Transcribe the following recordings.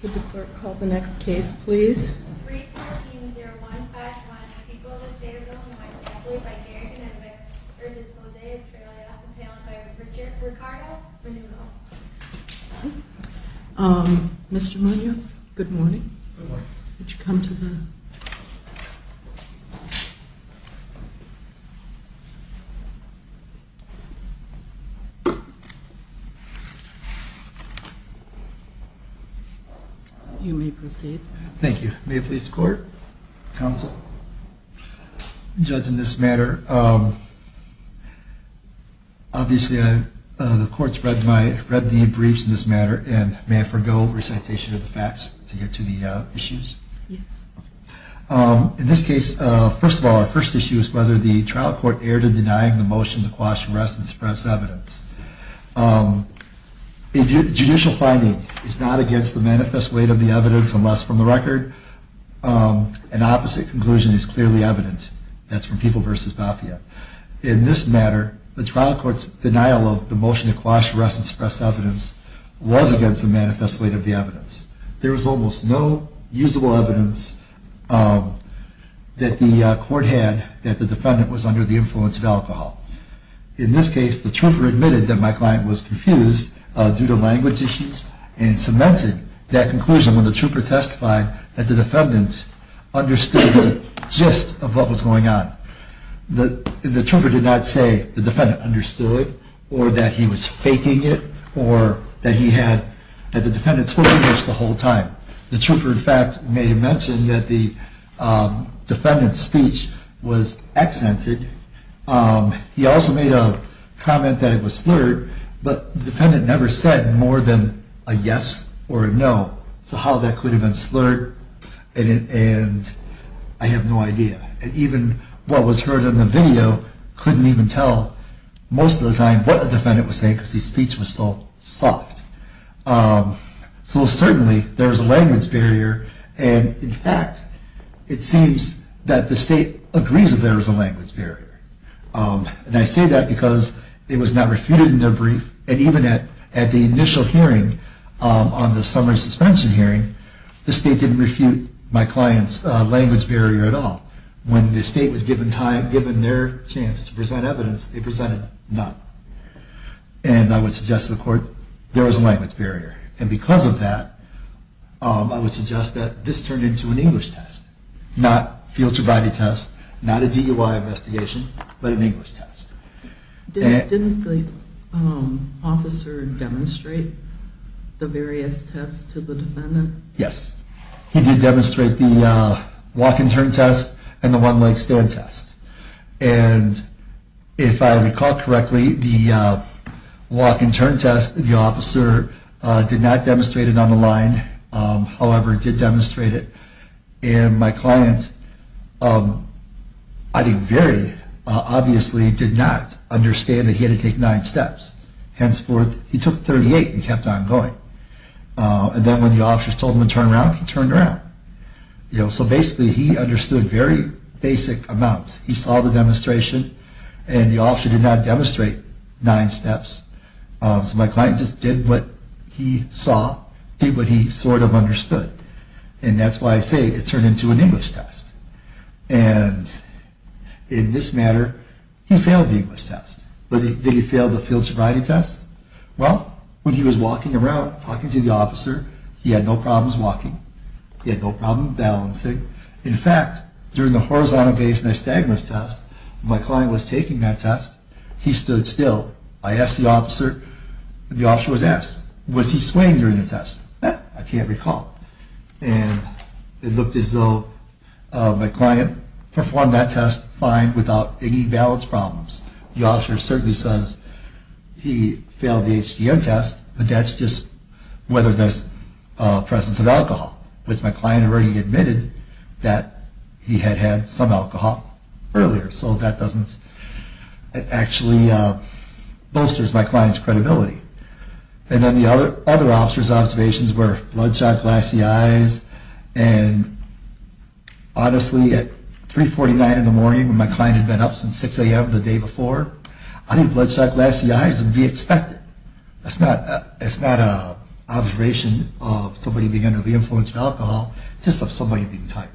Could the clerk call the next case please? Mr. Munoz, good morning. Good morning. Would you come to the... You may proceed. Thank you. May it please the court, counsel, judge in this matter. Obviously the court's read the briefs in this matter and may I forego recitation of the facts to get to the issues? Yes. In this case, first of all, our first issue is whether the trial court erred in denying the motion to quash arrest and suppress evidence. A judicial finding is not against the manifest weight of the evidence unless, from the record, an opposite conclusion is clearly evident. That's from People v. Bafia. In this matter, the trial court's denial of the motion to quash arrest and suppress evidence was against the manifest weight of the evidence. There was almost no usable evidence that the court had that the defendant was under the influence of alcohol. In this case, the trooper admitted that my client was confused due to language issues and cemented that conclusion when the trooper testified that the defendant understood the gist of what was going on. The trooper did not say the defendant understood or that he was faking it or that he had... that the defendant spoke English the whole time. The trooper, in fact, may have mentioned that the defendant's speech was accented. He also made a comment that it was slurred, but the defendant never said more than a yes or a no. So how that could have been slurred, I have no idea. And even what was heard in the video couldn't even tell most of the time what the defendant was saying because his speech was so soft. So certainly there was a language barrier, and in fact, it seems that the state agrees that there was a language barrier. And I say that because it was not refuted in their brief, and even at the initial hearing on the summary suspension hearing, the state didn't refute my client's language barrier at all. When the state was given their chance to present evidence, they presented none. And I would suggest to the court, there was a language barrier, and because of that, I would suggest that this turned into an English test. Not a field sobriety test, not a DUI investigation, but an English test. Didn't the officer demonstrate the various tests to the defendant? Yes, he did demonstrate the walk and turn test and the one leg stand test. And if I recall correctly, the walk and turn test, the officer did not demonstrate it on the line. However, he did demonstrate it, and my client, I think, very obviously did not understand that he had to take nine steps. Henceforth, he took 38 and kept on going. And then when the officers told him to turn around, he turned around. So basically, he understood very basic amounts. He saw the demonstration, and the officer did not demonstrate nine steps. So my client just did what he saw, did what he sort of understood. And that's why I say it turned into an English test. And in this matter, he failed the English test. Did he fail the field sobriety test? Well, when he was walking around, talking to the officer, he had no problems walking. He had no problem balancing. In fact, during the horizontal base nystagmus test, my client was taking that test. He stood still. I asked the officer, the officer was asked, was he swaying during the test? I can't recall. And it looked as though my client performed that test fine without any balance problems. The officer certainly says he failed the HDO test, but that's just whether there's a presence of alcohol, which my client already admitted that he had had some alcohol earlier. So that doesn't actually bolster my client's credibility. And then the other officer's observations were bloodshot glassy eyes, and honestly, at 3.49 in the morning when my client had been up since 6 a.m. the day before, I think bloodshot glassy eyes would be expected. That's not an observation of somebody being under the influence of alcohol. It's just of somebody being tired.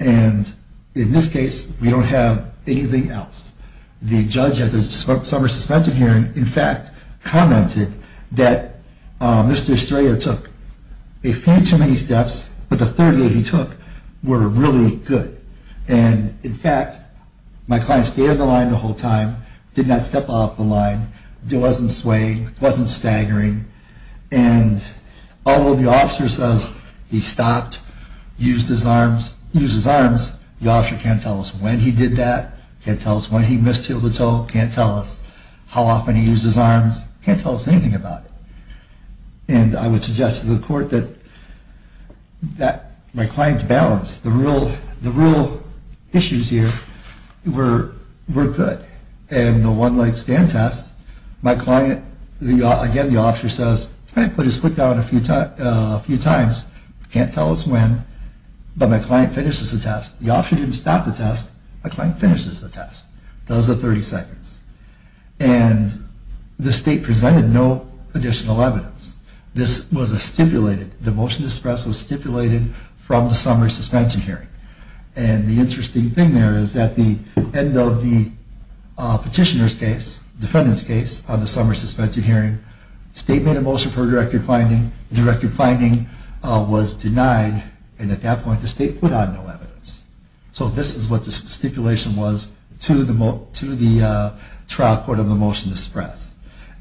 And in this case, we don't have anything else. The judge at the summer suspension hearing, in fact, commented that Mr. Estrella took a few too many steps, but the 30 that he took were really good. And, in fact, my client stayed on the line the whole time, did not step off the line, wasn't swaying, wasn't staggering. And although the officer says he stopped, used his arms, used his arms, the officer can't tell us when he did that, can't tell us when he misheeled a toe, can't tell us how often he used his arms, can't tell us anything about it. And I would suggest to the court that my client's balance, the real issues here were good. And the one-leg stand test, my client, again, the officer says, I put his foot down a few times, can't tell us when, but my client finishes the test. The officer didn't stop the test, my client finishes the test. Those are 30 seconds. And the state presented no additional evidence. This was a stipulated, the motion to express was stipulated from the summer suspension hearing. And the interesting thing there is that the end of the petitioner's case, defendant's case, on the summer suspension hearing, statement of motion for directed finding was denied. And at that point, the state put on no evidence. So this is what the stipulation was to the trial court on the motion to express.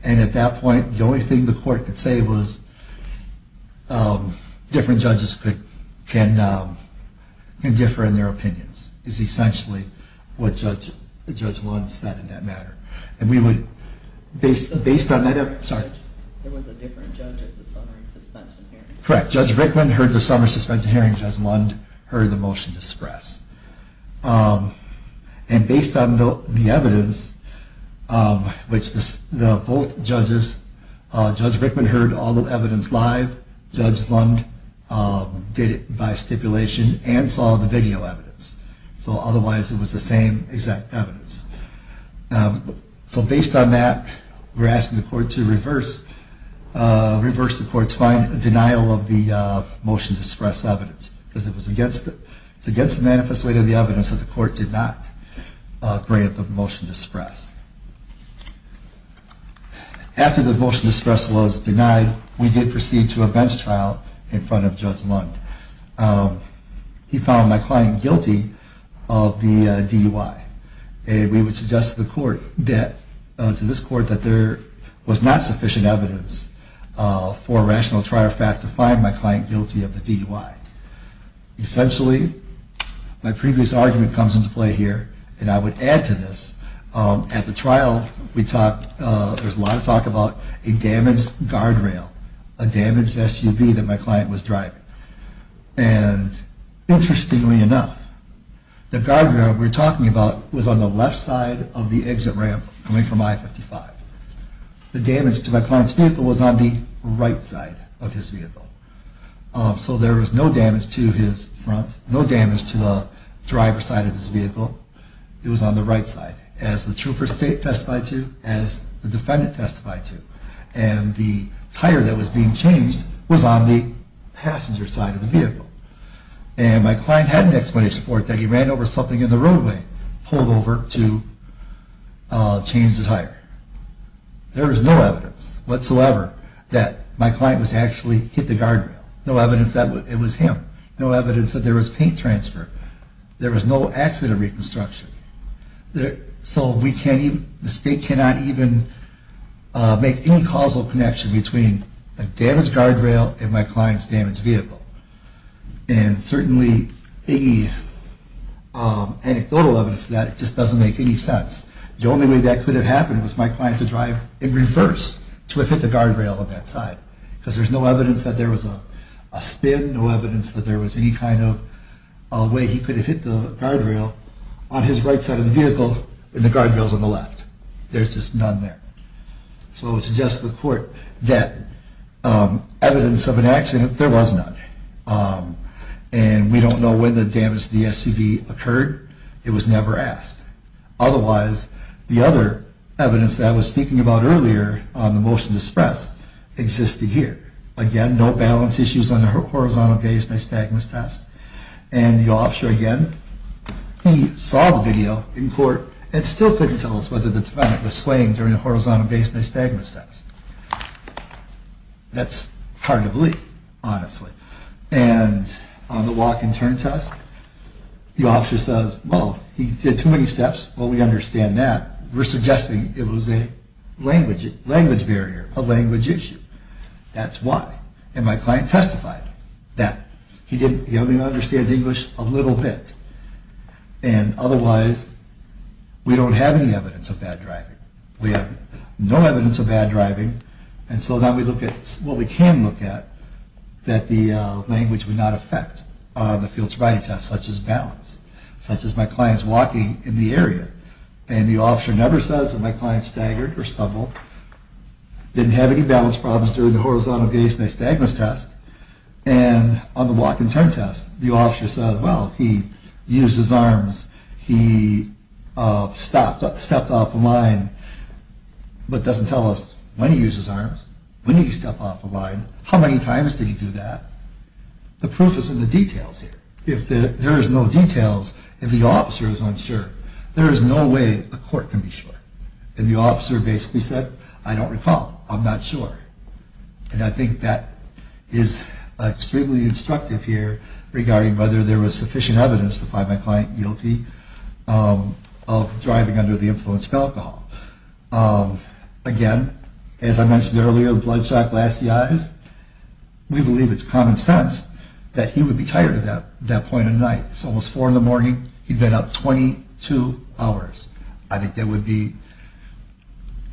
And at that point, the only thing the court could say was different judges can differ in their opinions, is essentially what Judge Lund said in that matter. And we would, based on that, sorry. There was a different judge at the summer suspension hearing. Correct. Judge Rickman heard the summer suspension hearing, Judge Lund heard the motion to express. And based on the evidence, which both judges, Judge Rickman heard all the evidence live, Judge Lund did it by stipulation and saw the video evidence. So otherwise, it was the same exact evidence. So based on that, we're asking the court to reverse the court's denial of the motion to express evidence. Because it was against the manifesto of the evidence that the court did not grant the motion to express. After the motion to express was denied, we did proceed to a bench trial in front of Judge Lund. He found my client guilty of the DUI. And we would suggest to this court that there was not sufficient evidence for a rational trial fact to find my client guilty of the DUI. Essentially, my previous argument comes into play here, and I would add to this. At the trial, there's a lot of talk about a damaged guardrail, a damaged SUV that my client was driving. And interestingly enough, the guardrail we're talking about was on the left side of the exit ramp coming from I-55. The damage to my client's vehicle was on the right side of his vehicle. So there was no damage to his front, no damage to the driver's side of his vehicle. It was on the right side, as the trooper testified to, as the defendant testified to. And the tire that was being changed was on the passenger side of the vehicle. And my client had an explanation for it, that he ran over something in the roadway, pulled over to change the tire. There was no evidence whatsoever that my client was actually hit the guardrail. No evidence that it was him. No evidence that there was paint transfer. There was no accident reconstruction. So the state cannot even make any causal connection between a damaged guardrail and my client's damaged vehicle. And certainly any anecdotal evidence of that just doesn't make any sense. The only way that could have happened was my client to drive in reverse to have hit the guardrail on that side. Because there's no evidence that there was a spin, no evidence that there was any kind of way he could have hit the guardrail on his right side of the vehicle, and the guardrail's on the left. There's just none there. So I would suggest to the court that evidence of an accident, there was none. And we don't know when the damage to the SUV occurred. It was never asked. Otherwise, the other evidence that I was speaking about earlier on the motion to express existed here. Again, no balance issues on the horizontal gaze nystagmus test. And the officer, again, he saw the video in court and still couldn't tell us whether the defendant was swaying during the horizontal gaze nystagmus test. That's hard to believe, honestly. And on the walk and turn test, the officer says, well, he did too many steps. Well, we understand that. We're suggesting it was a language barrier, a language issue. That's why. And my client testified that. He only understands English a little bit. And otherwise, we don't have any evidence of bad driving. We have no evidence of bad driving. And so now we look at what we can look at that the language would not affect on the field sobriety test, such as balance, such as my client's walking in the area. And the officer never says that my client staggered or stumbled, didn't have any balance problems during the horizontal gaze nystagmus test. And on the walk and turn test, the officer says, well, he used his arms, he stepped off a line, but doesn't tell us when he used his arms, when he stepped off a line. How many times did he do that? The proof is in the details here. If there is no details, if the officer is unsure, there is no way a court can be sure. And the officer basically said, I don't recall, I'm not sure. And I think that is extremely instructive here regarding whether there was sufficient evidence to find my client guilty of driving under the influence of alcohol. Again, as I mentioned earlier, bloodshot glassy eyes, we believe it's common sense that he would be tired at that point in the night. It's almost 4 in the morning. He'd been up 22 hours. I think it would be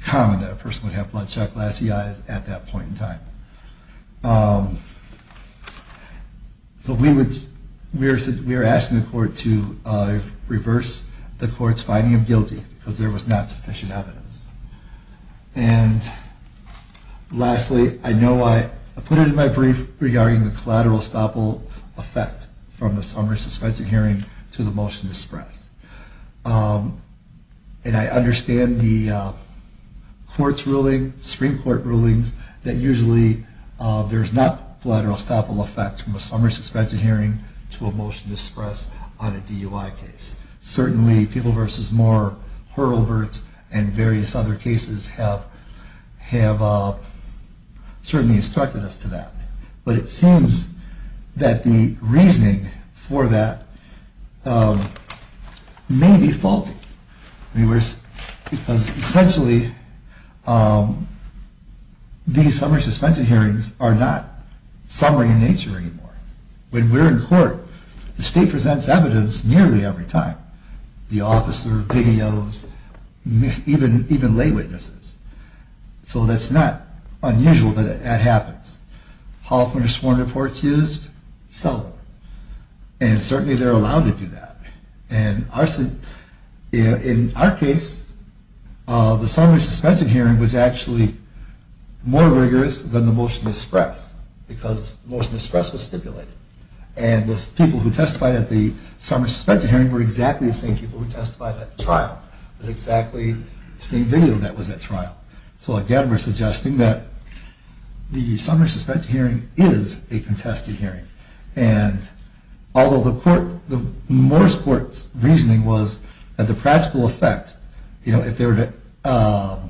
common that a person would have bloodshot glassy eyes at that point in time. So we are asking the court to reverse the court's finding of guilty because there was not sufficient evidence. And lastly, I know I put it in my brief regarding the collateral estoppel effect from the summary suspension hearing to the motion to express. And I understand the court's ruling, Supreme Court rulings, that usually there is not collateral estoppel effect from a summary suspension hearing to a motion to express on a DUI case. Certainly, People v. Moore, Hurlburt, and various other cases have certainly instructed us to that. But it seems that the reasoning for that may be faulty. Because essentially, these summary suspension hearings are not summary in nature anymore. When we're in court, the state presents evidence nearly every time. The officer, PGOs, even lay witnesses. So that's not unusual that that happens. Hall of Famer sworn reports used? Seldom. And certainly they're allowed to do that. And in our case, the summary suspension hearing was actually more rigorous than the motion to express. Because the motion to express was stipulated. And the people who testified at the summary suspension hearing were exactly the same people who testified at the trial. It was exactly the same video that was at trial. So again, we're suggesting that the summary suspension hearing is a contested hearing. And although the Moore's Court's reasoning was that the practical effect, if they were to allow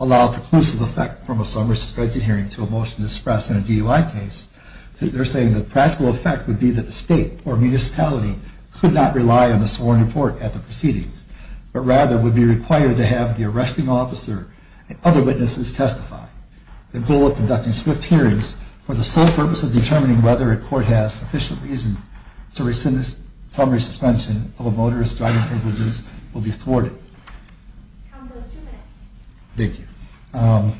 a preclusive effect from a summary suspension hearing to a motion to express in a DUI case, they're saying the practical effect would be that the state or municipality could not rely on the sworn report at the proceedings, but rather would be required to have the arresting officer and other witnesses testify. The goal of conducting swift hearings for the sole purpose of determining whether a court has sufficient reason to rescind the summary suspension of a motorist's driving privileges will be thwarted. Counsel, two minutes. Thank you.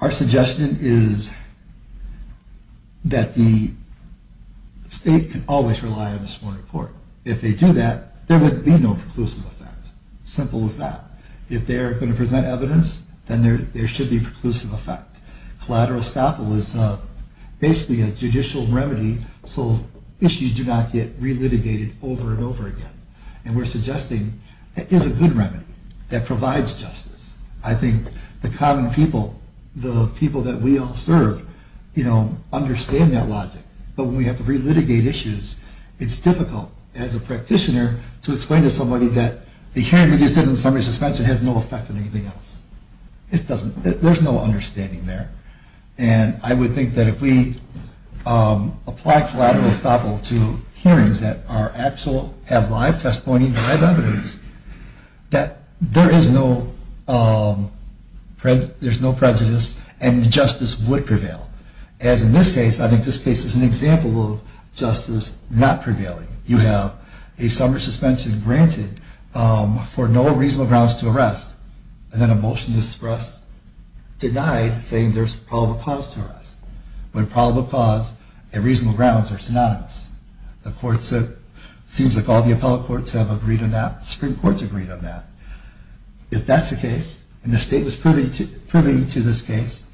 Our suggestion is that the state can always rely on the sworn report. If they do that, there would be no preclusive effect. Simple as that. If they are going to present evidence, then there should be preclusive effect. Collateral estoppel is basically a judicial remedy so issues do not get re-litigated over and over again. And we're suggesting it is a good remedy that provides justice. I think the common people, the people that we all serve, you know, understand that logic. But when we have to re-litigate issues, it's difficult as a practitioner to explain to somebody that the hearing we just did on summary suspension has no effect on anything else. There's no understanding there. And I would think that if we applied collateral estoppel to hearings that have live testimony, live evidence, that there is no prejudice and justice would prevail. As in this case, I think this case is an example of justice not prevailing. You have a summary suspension granted for no reasonable grounds to arrest, and then a motion is expressed, denied, saying there's probable cause to arrest. When probable cause and reasonable grounds are synonymous, it seems like all the appellate courts have agreed on that. Supreme Court's agreed on that. If that's the case, and the state was proving to this case,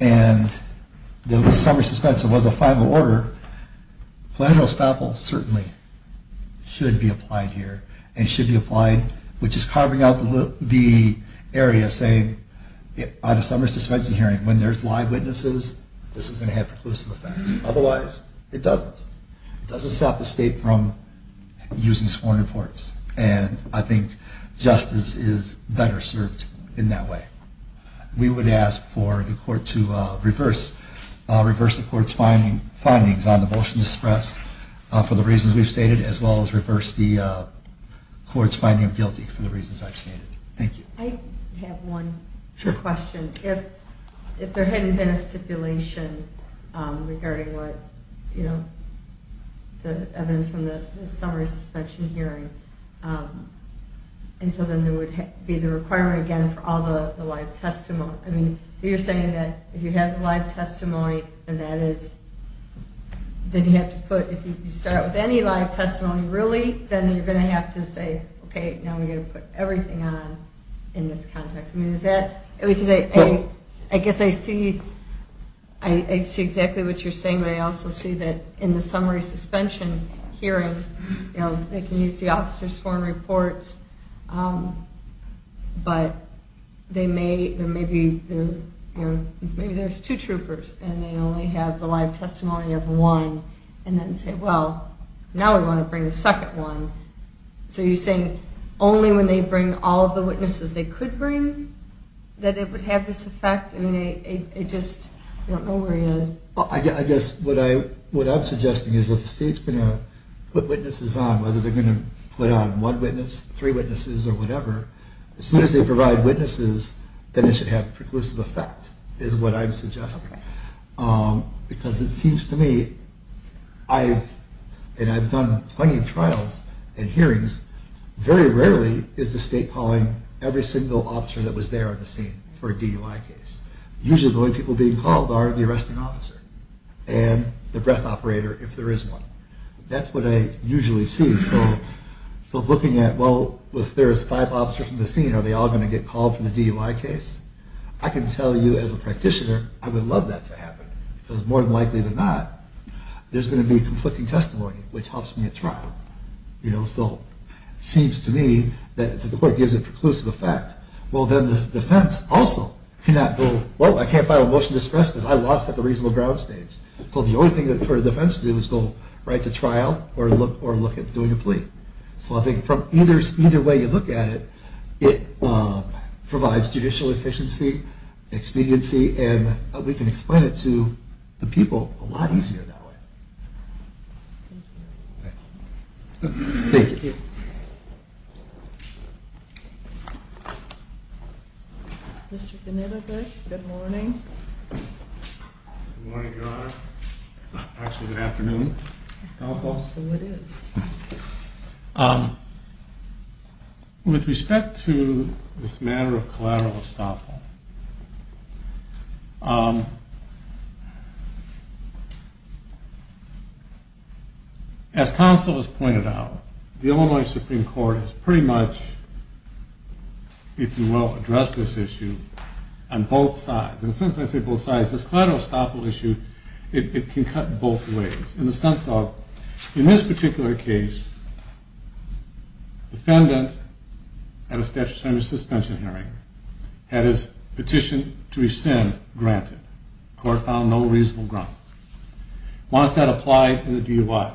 and the summary suspension was a final order, collateral estoppel certainly should be applied here and should be applied, which is carving out the area of saying on a summary suspension hearing, when there's live witnesses, this is going to have preclusive effect. Otherwise, it doesn't. It doesn't stop the state from using sworn reports. And I think justice is better served in that way. We would ask for the court to reverse the court's findings on the motion expressed for the reasons we've stated, as well as reverse the court's finding of guilty for the reasons I've stated. Thank you. I have one question. If there hadn't been a stipulation regarding the evidence from the summary suspension hearing, and so then there would be the requirement again for all the live testimony. I mean, you're saying that if you have live testimony, then that is, then you have to put, if you start with any live testimony really, then you're going to have to say, okay, now we're going to put everything on in this context. I mean, is that, because I guess I see exactly what you're saying, but I also see that in the summary suspension hearing, you know, they can use the officer's sworn reports, but they may, maybe there's two troopers, and they only have the live testimony of one, and then say, well, now we want to bring the second one. So you're saying only when they bring all of the witnesses they could bring that it would have this effect? I mean, I just don't know where you're at. Well, I guess what I'm suggesting is if the state's going to put witnesses on, whether they're going to put on one witness, three witnesses, or whatever, as soon as they provide witnesses, then it should have a preclusive effect, is what I'm suggesting. Because it seems to me, and I've done plenty of trials and hearings, very rarely is the state calling every single officer that was there on the scene for a DUI case. Usually the only people being called are the arresting officer and the breath operator, if there is one. That's what I usually see. So looking at, well, if there is five officers on the scene, are they all going to get called for the DUI case? I can tell you as a practitioner, I would love that to happen, because more than likely than not, there's going to be conflicting testimony, which helps me at trial. So it seems to me that if the court gives a preclusive effect, well, then the defense also cannot go, well, I can't file a motion to express because I lost at the reasonable ground stage. So the only thing that the defense can do is go right to trial or look at doing a plea. So I think from either way you look at it, it provides judicial efficiency, expediency, and we can explain it to the people a lot easier that way. Thank you. Thank you. Mr. Benitovic, good morning. Good morning, Your Honor. Actually, good afternoon. Also it is. With respect to this matter of collateral estoppel, as counsel has pointed out, the Illinois Supreme Court has pretty much, if you will, addressed this issue on both sides. And since I say both sides, this collateral estoppel issue, it can cut both ways. In the sense of, in this particular case, the defendant had a statutory suspension hearing, had his petition to rescind granted, the court found no reasonable ground. Why is that applied, and do you why?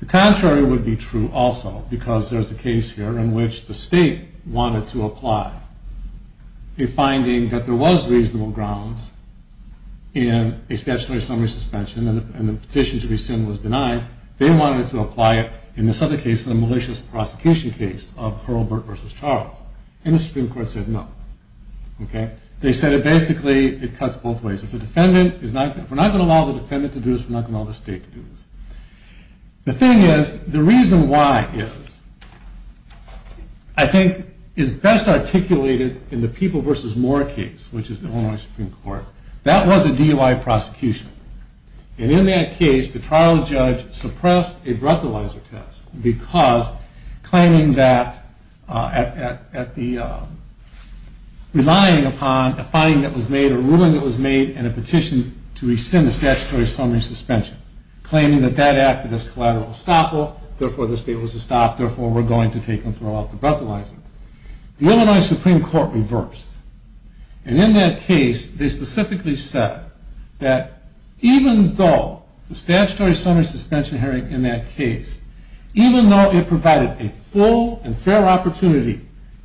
The contrary would be true also, because there's a case here in which the state wanted to apply a finding that there was reasonable ground in a statutory summary suspension, and the petition to rescind was denied. They wanted to apply it in this other case, the malicious prosecution case of Hurlburt v. Charles. And the Supreme Court said no. They said basically it cuts both ways. If we're not going to allow the defendant to do this, we're not going to allow the state to do this. The thing is, the reason why is, I think is best articulated in the People v. Moore case, which is the Illinois Supreme Court. That was a DUI prosecution. And in that case, the trial judge suppressed a breathalyzer test, because claiming that, relying upon a finding that was made, a ruling that was made, and a petition to rescind the statutory summary suspension, claiming that that acted as collateral estoppel, therefore the state was to stop, therefore we're going to take and throw out the breathalyzer. The Illinois Supreme Court reversed. And in that case, they specifically said that even though the statutory summary suspension hearing in that case, even though it provided a full and fair opportunity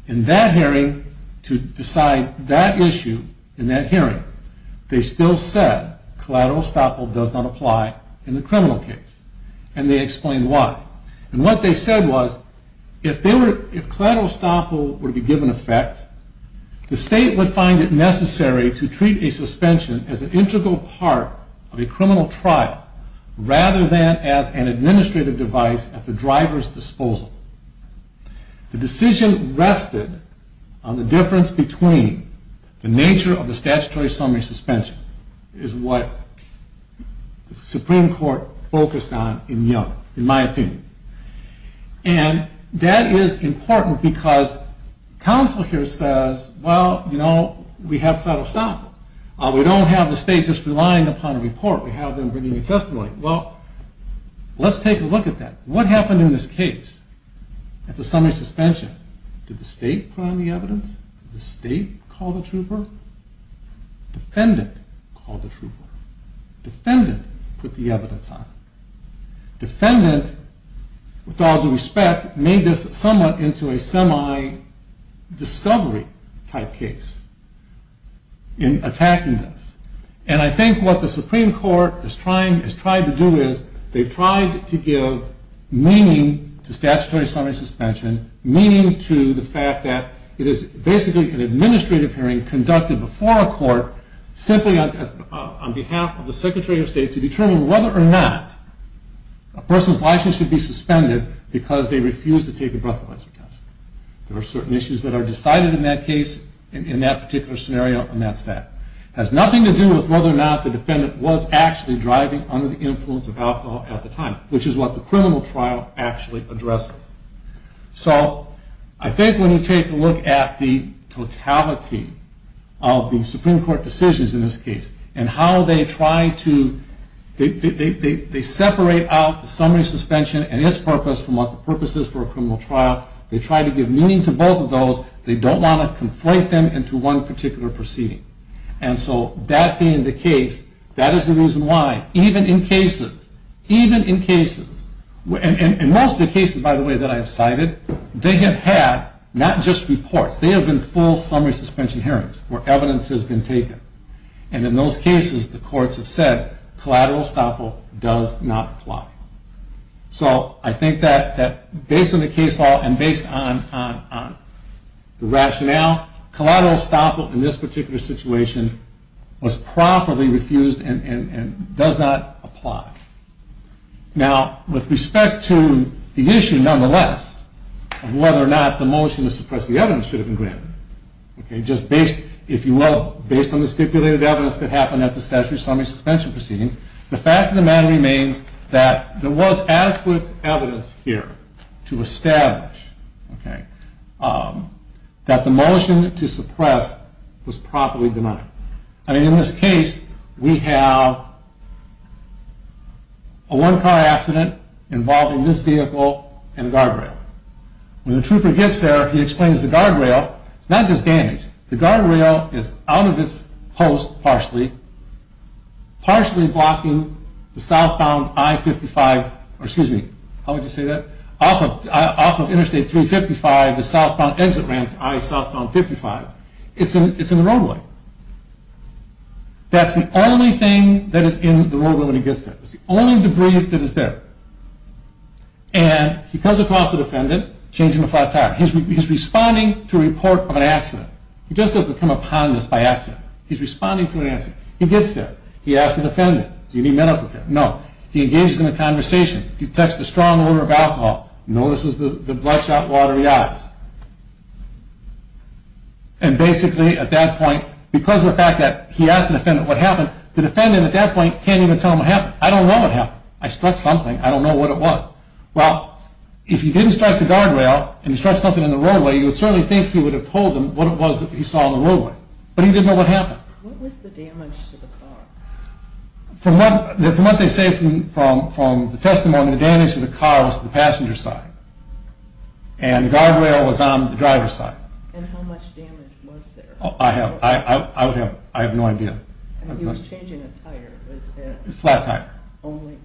in that hearing to decide that issue in that hearing, they still said collateral estoppel does not apply in the criminal case. And they explained why. And what they said was, if collateral estoppel were to be given effect, the state would find it necessary to treat a suspension as an integral part of a criminal trial rather than as an administrative device at the driver's disposal. The decision rested on the difference between the nature of the statutory summary suspension, is what the Supreme Court focused on in my opinion. And that is important because counsel here says, well, you know, we have collateral estoppel. We don't have the state just relying upon a report. We have them bringing a testimony. Well, let's take a look at that. What happened in this case at the summary suspension? Did the state put on the evidence? Did the state call the trooper? Defendant called the trooper. Defendant put the evidence on. Defendant, with all due respect, made this somewhat into a semi-discovery type case. In attacking this. And I think what the Supreme Court has tried to do is, they've tried to give meaning to statutory summary suspension, meaning to the fact that it is basically an administrative hearing conducted before a court, simply on behalf of the Secretary of State, to determine whether or not a person's license should be suspended because they refused to take a breathalyzer test. There are certain issues that are decided in that case, in that particular scenario, and that's that. It has nothing to do with whether or not the defendant was actually driving under the influence of alcohol at the time, which is what the criminal trial actually addresses. So I think when you take a look at the totality of the Supreme Court decisions in this case, and how they try to, they separate out the summary suspension and its purpose and what the purpose is for a criminal trial. They try to give meaning to both of those. They don't want to conflate them into one particular proceeding. And so that being the case, that is the reason why, even in cases, even in cases, and most of the cases, by the way, that I have cited, they have had not just reports, they have been full summary suspension hearings where evidence has been taken. And in those cases, the courts have said, collateral estoppel does not apply. So I think that based on the case law and based on the rationale, collateral estoppel in this particular situation was promptly refused and does not apply. Now, with respect to the issue, nonetheless, of whether or not the motion to suppress the evidence should have been granted, just based, if you will, based on the stipulated evidence that happened at the statutory summary suspension proceedings, the fact of the matter remains that there was adequate evidence here to establish, okay, that the motion to suppress was promptly denied. I mean, in this case, we have a one-car accident involving this vehicle and a guardrail. When the trooper gets there, he explains the guardrail is not just damaged. The guardrail is out of its post partially, partially blocking the southbound I-55, or excuse me, how would you say that, off of Interstate 355, the southbound exit ramp to I-55. It's in the roadway. That's the only thing that is in the roadway when he gets there. It's the only debris that is there. And he comes across the defendant changing a flat tire. He's responding to a report of an accident. He just doesn't come upon this by accident. He's responding to an accident. He gets there. He asks the defendant, do you need medical care? No. He engages in a conversation. He detects the strong odor of alcohol. He notices the bloodshot watery eyes. And basically at that point, because of the fact that he asked the defendant what happened, the defendant at that point can't even tell him what happened. I don't know what happened. I struck something. I don't know what it was. Well, if he didn't strike the guardrail and he struck something in the roadway, you would certainly think he would have told him what it was that he saw in the roadway. But he didn't know what happened. What was the damage to the car? From what they say from the testimony, the damage to the car was to the passenger side. And the guardrail was on the driver's side. And how much damage was there? I have no idea. He was changing a tire. It was a flat tire. Only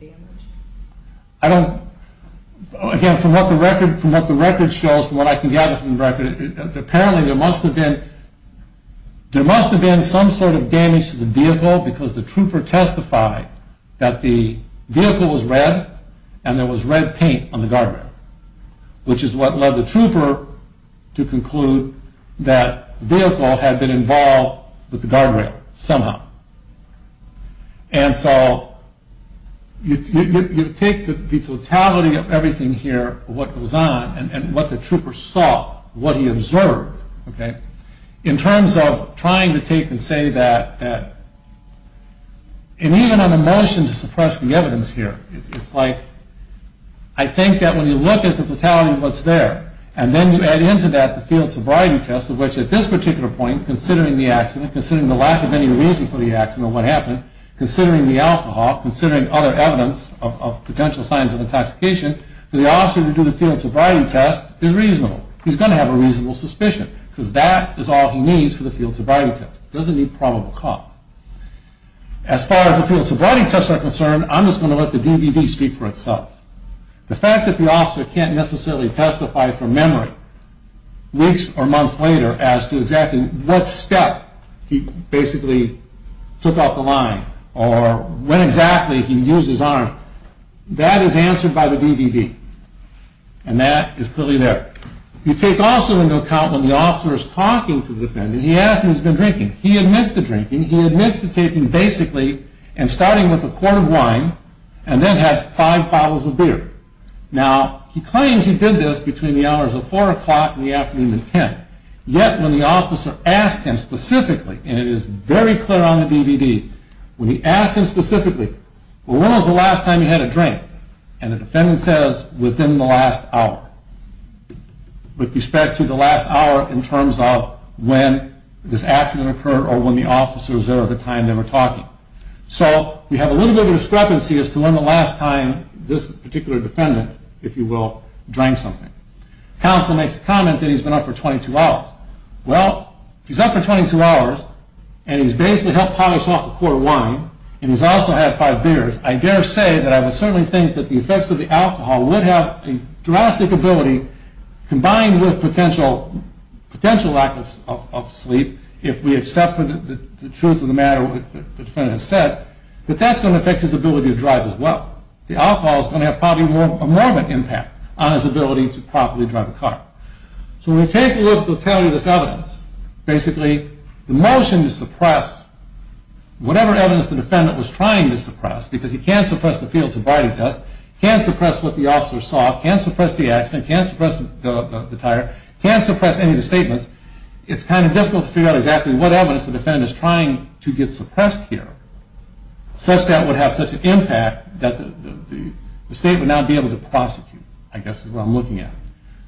damage? Again, from what the record shows, from what I can gather from the record, apparently there must have been some sort of damage to the vehicle because the trooper testified that the vehicle was red and there was red paint on the guardrail, which is what led the trooper to conclude that the vehicle had been involved with the guardrail somehow. And so you take the totality of everything here, what goes on, and what the trooper saw, what he observed, in terms of trying to take and say that, and even on a motion to suppress the evidence here, it's like I think that when you look at the totality of what's there and then you add into that the field sobriety test, which at this particular point, considering the accident, considering the lack of any reason for the accident, what happened, considering the alcohol, considering other evidence of potential signs of intoxication, for the officer to do the field sobriety test is reasonable. He's going to have a reasonable suspicion because that is all he needs for the field sobriety test. He doesn't need probable cause. As far as the field sobriety tests are concerned, I'm just going to let the DVD speak for itself. The fact that the officer can't necessarily testify from memory weeks or months later as to exactly what step he basically took off the line or when exactly he used his arms, that is answered by the DVD. And that is clearly there. You take also into account when the officer is talking to the defendant, he asks him if he's been drinking. He admits to drinking. He admits to taking basically and starting with a quart of wine and then had five bottles of beer. Now, he claims he did this between the hours of 4 o'clock and the afternoon of 10. Yet, when the officer asked him specifically, and it is very clear on the DVD, when he asked him specifically, well, when was the last time you had a drink? And the defendant says, within the last hour, with respect to the last hour in terms of when this accident occurred or when the officer was there at the time they were talking. So we have a little bit of discrepancy as to when the last time this particular defendant, if you will, drank something. Counsel makes the comment that he's been up for 22 hours. Well, he's up for 22 hours and he's basically helped polish off a quart of wine and he's also had five beers. I dare say that I would certainly think that the effects of the alcohol would have a drastic ability combined with potential lack of sleep if we accept the truth of the matter that the defendant has said, that that's going to affect his ability to drive as well. The alcohol is going to have probably a morbid impact on his ability to properly drive a car. So when we take a look at the tally of this evidence, basically the motion to suppress whatever evidence the defendant was trying to suppress, because he can't suppress the field sobriety test, he can't suppress what the officer saw, he can't suppress the accident, he can't suppress the tire, he can't suppress any of the statements, it's kind of difficult to figure out exactly what evidence the defendant is trying to get suppressed here such that it would have such an impact that the state would not be able to prosecute, I guess is what I'm looking at.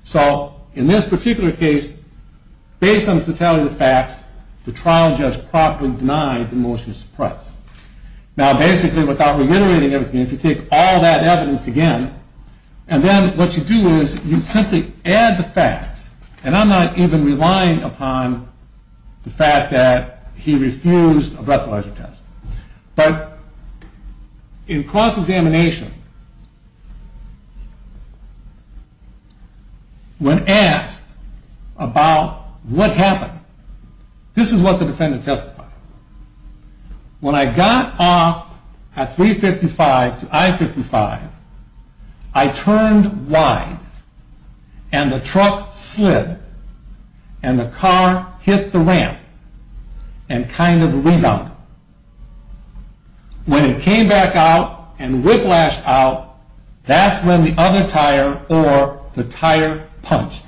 So in this particular case, based on this tally of the facts, the trial judge properly denied the motion to suppress. Now basically, without reiterating everything, if you take all that evidence again, and then what you do is you simply add the facts, and I'm not even relying upon the fact that he refused a breathalyzer test. But in cross-examination, when asked about what happened, this is what the defendant testified. When I got off at 355 to I-55, I turned wide, and the truck slid, and the car hit the ramp, and kind of rebounded. When it came back out and whiplashed out, that's when the other tire or the tire punched.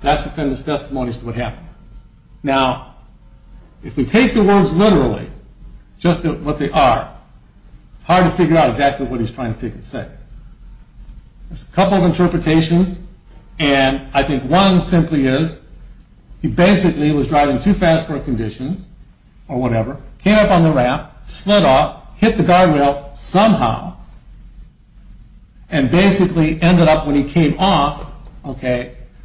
That's the defendant's testimony as to what happened. Now, if we take the words literally, just what they are, it's hard to figure out exactly what he's trying to take and say. There's a couple of interpretations, and I think one simply is, he basically was driving too fast for our conditions, or whatever, came up on the ramp, slid off, hit the guardrail somehow, and basically ended up, when he came off,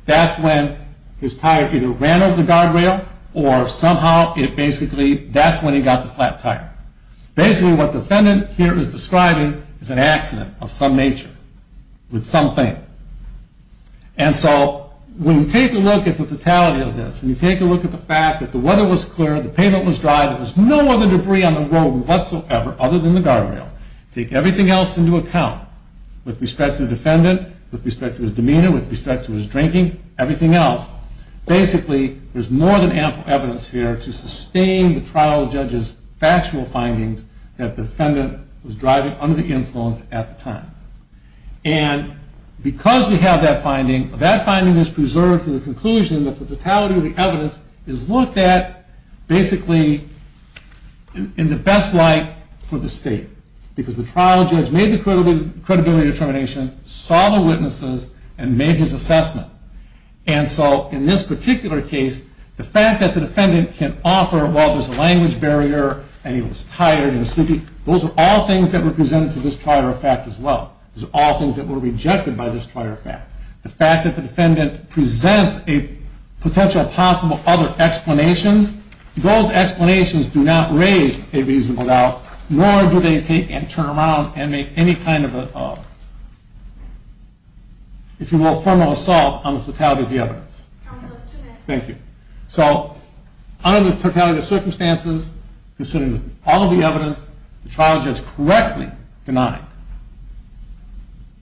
that's when his tire either ran over the guardrail, or somehow it basically, that's when he got the flat tire. Basically, what the defendant here is describing is an accident of some nature, with something. And so, when you take a look at the fatality of this, when you take a look at the fact that the weather was clear, the pavement was dry, there was no other debris on the road whatsoever, other than the guardrail, take everything else into account, with respect to the defendant, with respect to his demeanor, with respect to his drinking, everything else, basically, there's more than ample evidence here to sustain the trial judge's factual findings that the defendant was driving under the influence at the time. And because we have that finding, that finding is preserved to the conclusion that the fatality of the evidence is looked at, basically, in the best light for the state. Because the trial judge made the credibility determination, saw the witnesses, and made his assessment. And so, in this particular case, the fact that the defendant can offer, well, there's a language barrier, and he was tired and sleepy, those are all things that were presented to this prior fact as well. Those are all things that were rejected by this prior fact. The fact that the defendant presents a potential possible other explanations, those explanations do not raise a reasonable doubt, nor do they take and turn around and make any kind of, if you will, formal assault on the fatality of the evidence. Thank you. So, under the fatality of circumstances, considering all of the evidence, the trial judge correctly denied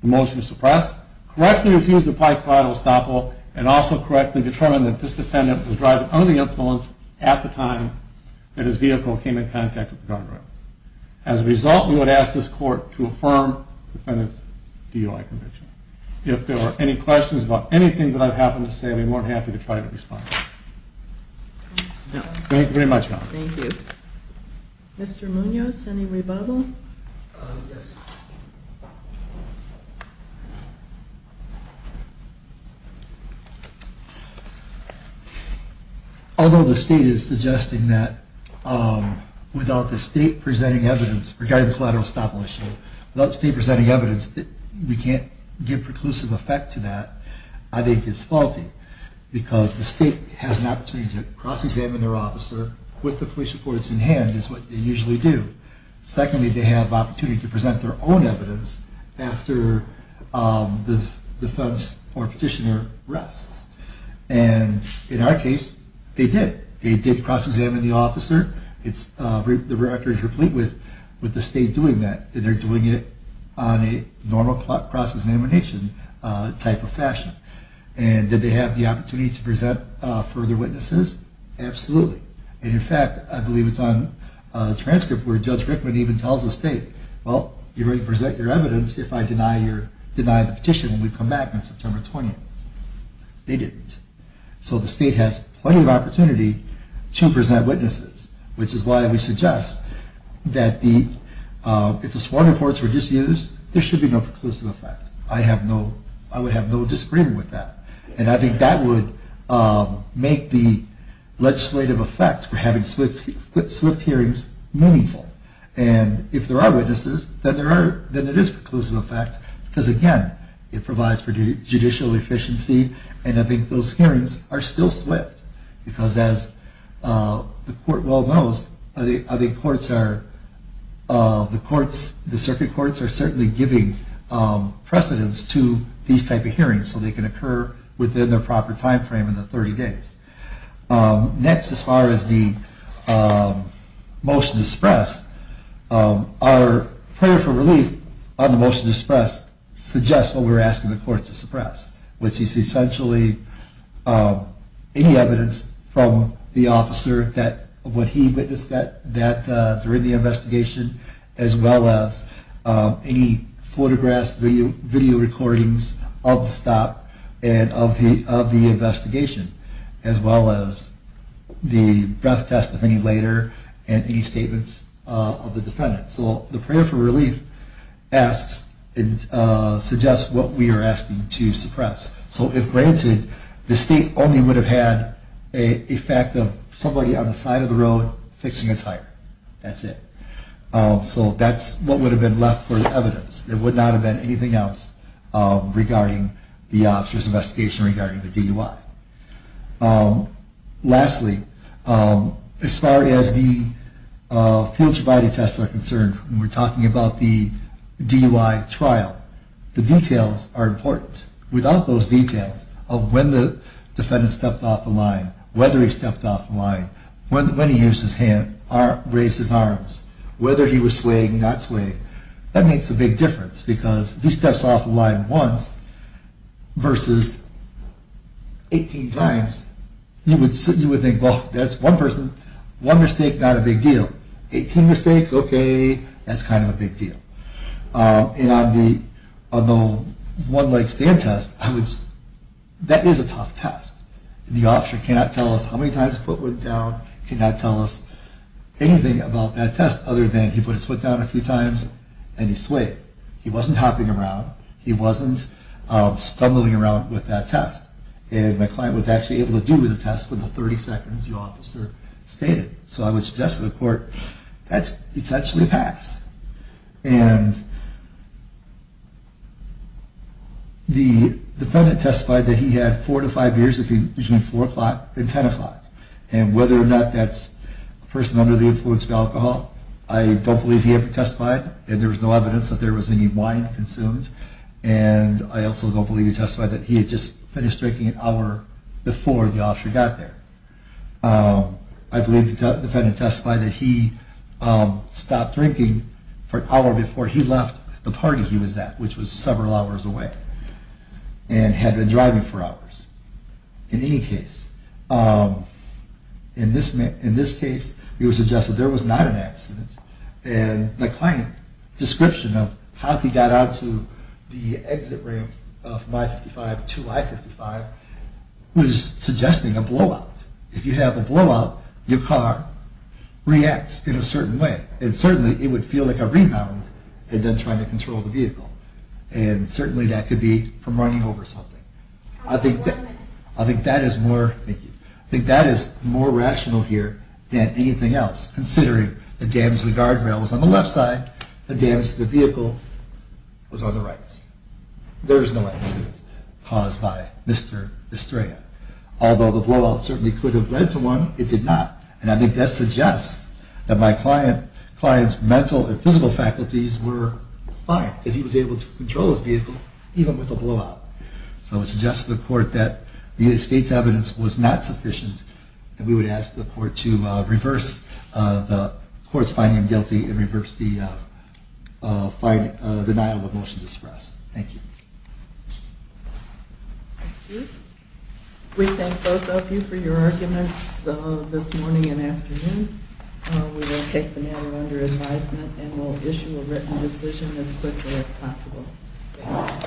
the motion to suppress, correctly refused to apply collateral estoppel, and also correctly determined that this defendant was driving under the influence at the time that his vehicle came in contact with the guardrail. As a result, we would ask this court to affirm the defendant's DUI conviction. If there were any questions about anything that I've happened to say, we'd be more than happy to try to respond. Thank you very much. Thank you. Mr. Munoz, any rebuttal? Yes. Although the State is suggesting that without the State presenting evidence, regarding the collateral estoppel issue, without the State presenting evidence that we can't give preclusive effect to that, I think it's faulty, because the State has an opportunity to cross-examine their officer with the police reports in hand is what they usually do. Secondly, they have the opportunity to present their own evidence after the defense or petitioner rests. And in our case, they did. They did cross-examine the officer. The record is complete with the State doing that, and they're doing it on a normal cross-examination type of fashion. And did they have the opportunity to present further witnesses? Absolutely. And, in fact, I believe it's on the transcript where Judge Rickman even tells the State, well, you're ready to present your evidence if I deny the petition when we come back on September 20th. They didn't. So the State has plenty of opportunity to present witnesses, which is why we suggest that if the sworn reports were disused, there should be no preclusive effect. I would have no disagreement with that. And I think that would make the legislative effect for having swift hearings meaningful. And if there are witnesses, then it is preclusive effect because, again, it provides for judicial efficiency, and I think those hearings are still swift because, as the Court well knows, the Circuit Courts are certainly giving precedence to these type of hearings so they can occur within the proper time frame in the 30 days. Next, as far as the motion to suppress, our prayer for relief on the motion to suppress suggests what we're asking the Court to suppress, which is essentially any evidence from the officer of what he witnessed during the investigation, as well as any photographs, video recordings of the stop and of the investigation, as well as the breath test of any later and any statements of the defendant. So the prayer for relief suggests what we are asking to suppress. So if granted, the State only would have had a fact of somebody on the side of the road fixing a tire. That's it. So that's what would have been left for the evidence. It would not have been anything else regarding the officer's investigation regarding the DUI. Lastly, as far as the field survival tests are concerned, when we're talking about the DUI trial, the details are important. Without those details of when the defendant stepped off the line, whether he stepped off the line, when he used his hand, raised his arms, whether he was swaying or not swaying, that makes a big difference because if he steps off the line once versus 18 times, you would think, well, that's one person. One mistake, not a big deal. Eighteen mistakes, okay, that's kind of a big deal. And on the one-leg stand test, that is a tough test. The officer cannot tell us how many times the foot went down. He cannot tell us anything about that test other than he put his foot down a few times and he swayed. He wasn't hopping around. He wasn't stumbling around with that test. And the client was actually able to do the test within the 30 seconds the officer stated. So I would suggest to the court that's essentially a pass. And the defendant testified that he had four to five beers between 4 o'clock and 10 o'clock. And whether or not that's a person under the influence of alcohol, I don't believe he ever testified. And there was no evidence that there was any wine consumed. And I also don't believe he testified that he had just finished drinking an hour before the officer got there. I believe the defendant testified that he stopped drinking for an hour before he left the party he was at, which was several hours away, and had been driving for hours. In any case, in this case, it was suggested there was not an accident. And the client's description of how he got onto the exit ramp of I-55 to I-55 was suggesting a blowout. If you have a blowout, your car reacts in a certain way. And certainly it would feel like a rebound and then trying to control the vehicle. And certainly that could be from running over something. I think that is more rational here than anything else, considering the damage to the guardrail was on the left side, the damage to the vehicle was on the right. There is no accident caused by Mr. Estrella. Although the blowout certainly could have led to one, it did not. And I think that suggests that my client's mental and physical faculties were fine because he was able to control his vehicle, even with a blowout. So it suggests to the court that the state's evidence was not sufficient and we would ask the court to reverse the court's finding him guilty and reverse the denial of motion to suppress. Thank you. Thank you. We thank both of you for your arguments this morning and afternoon. We will take the matter under advisement and will issue a written decision as quickly as possible.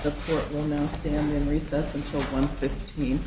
The court will now stand in recess until 1.15.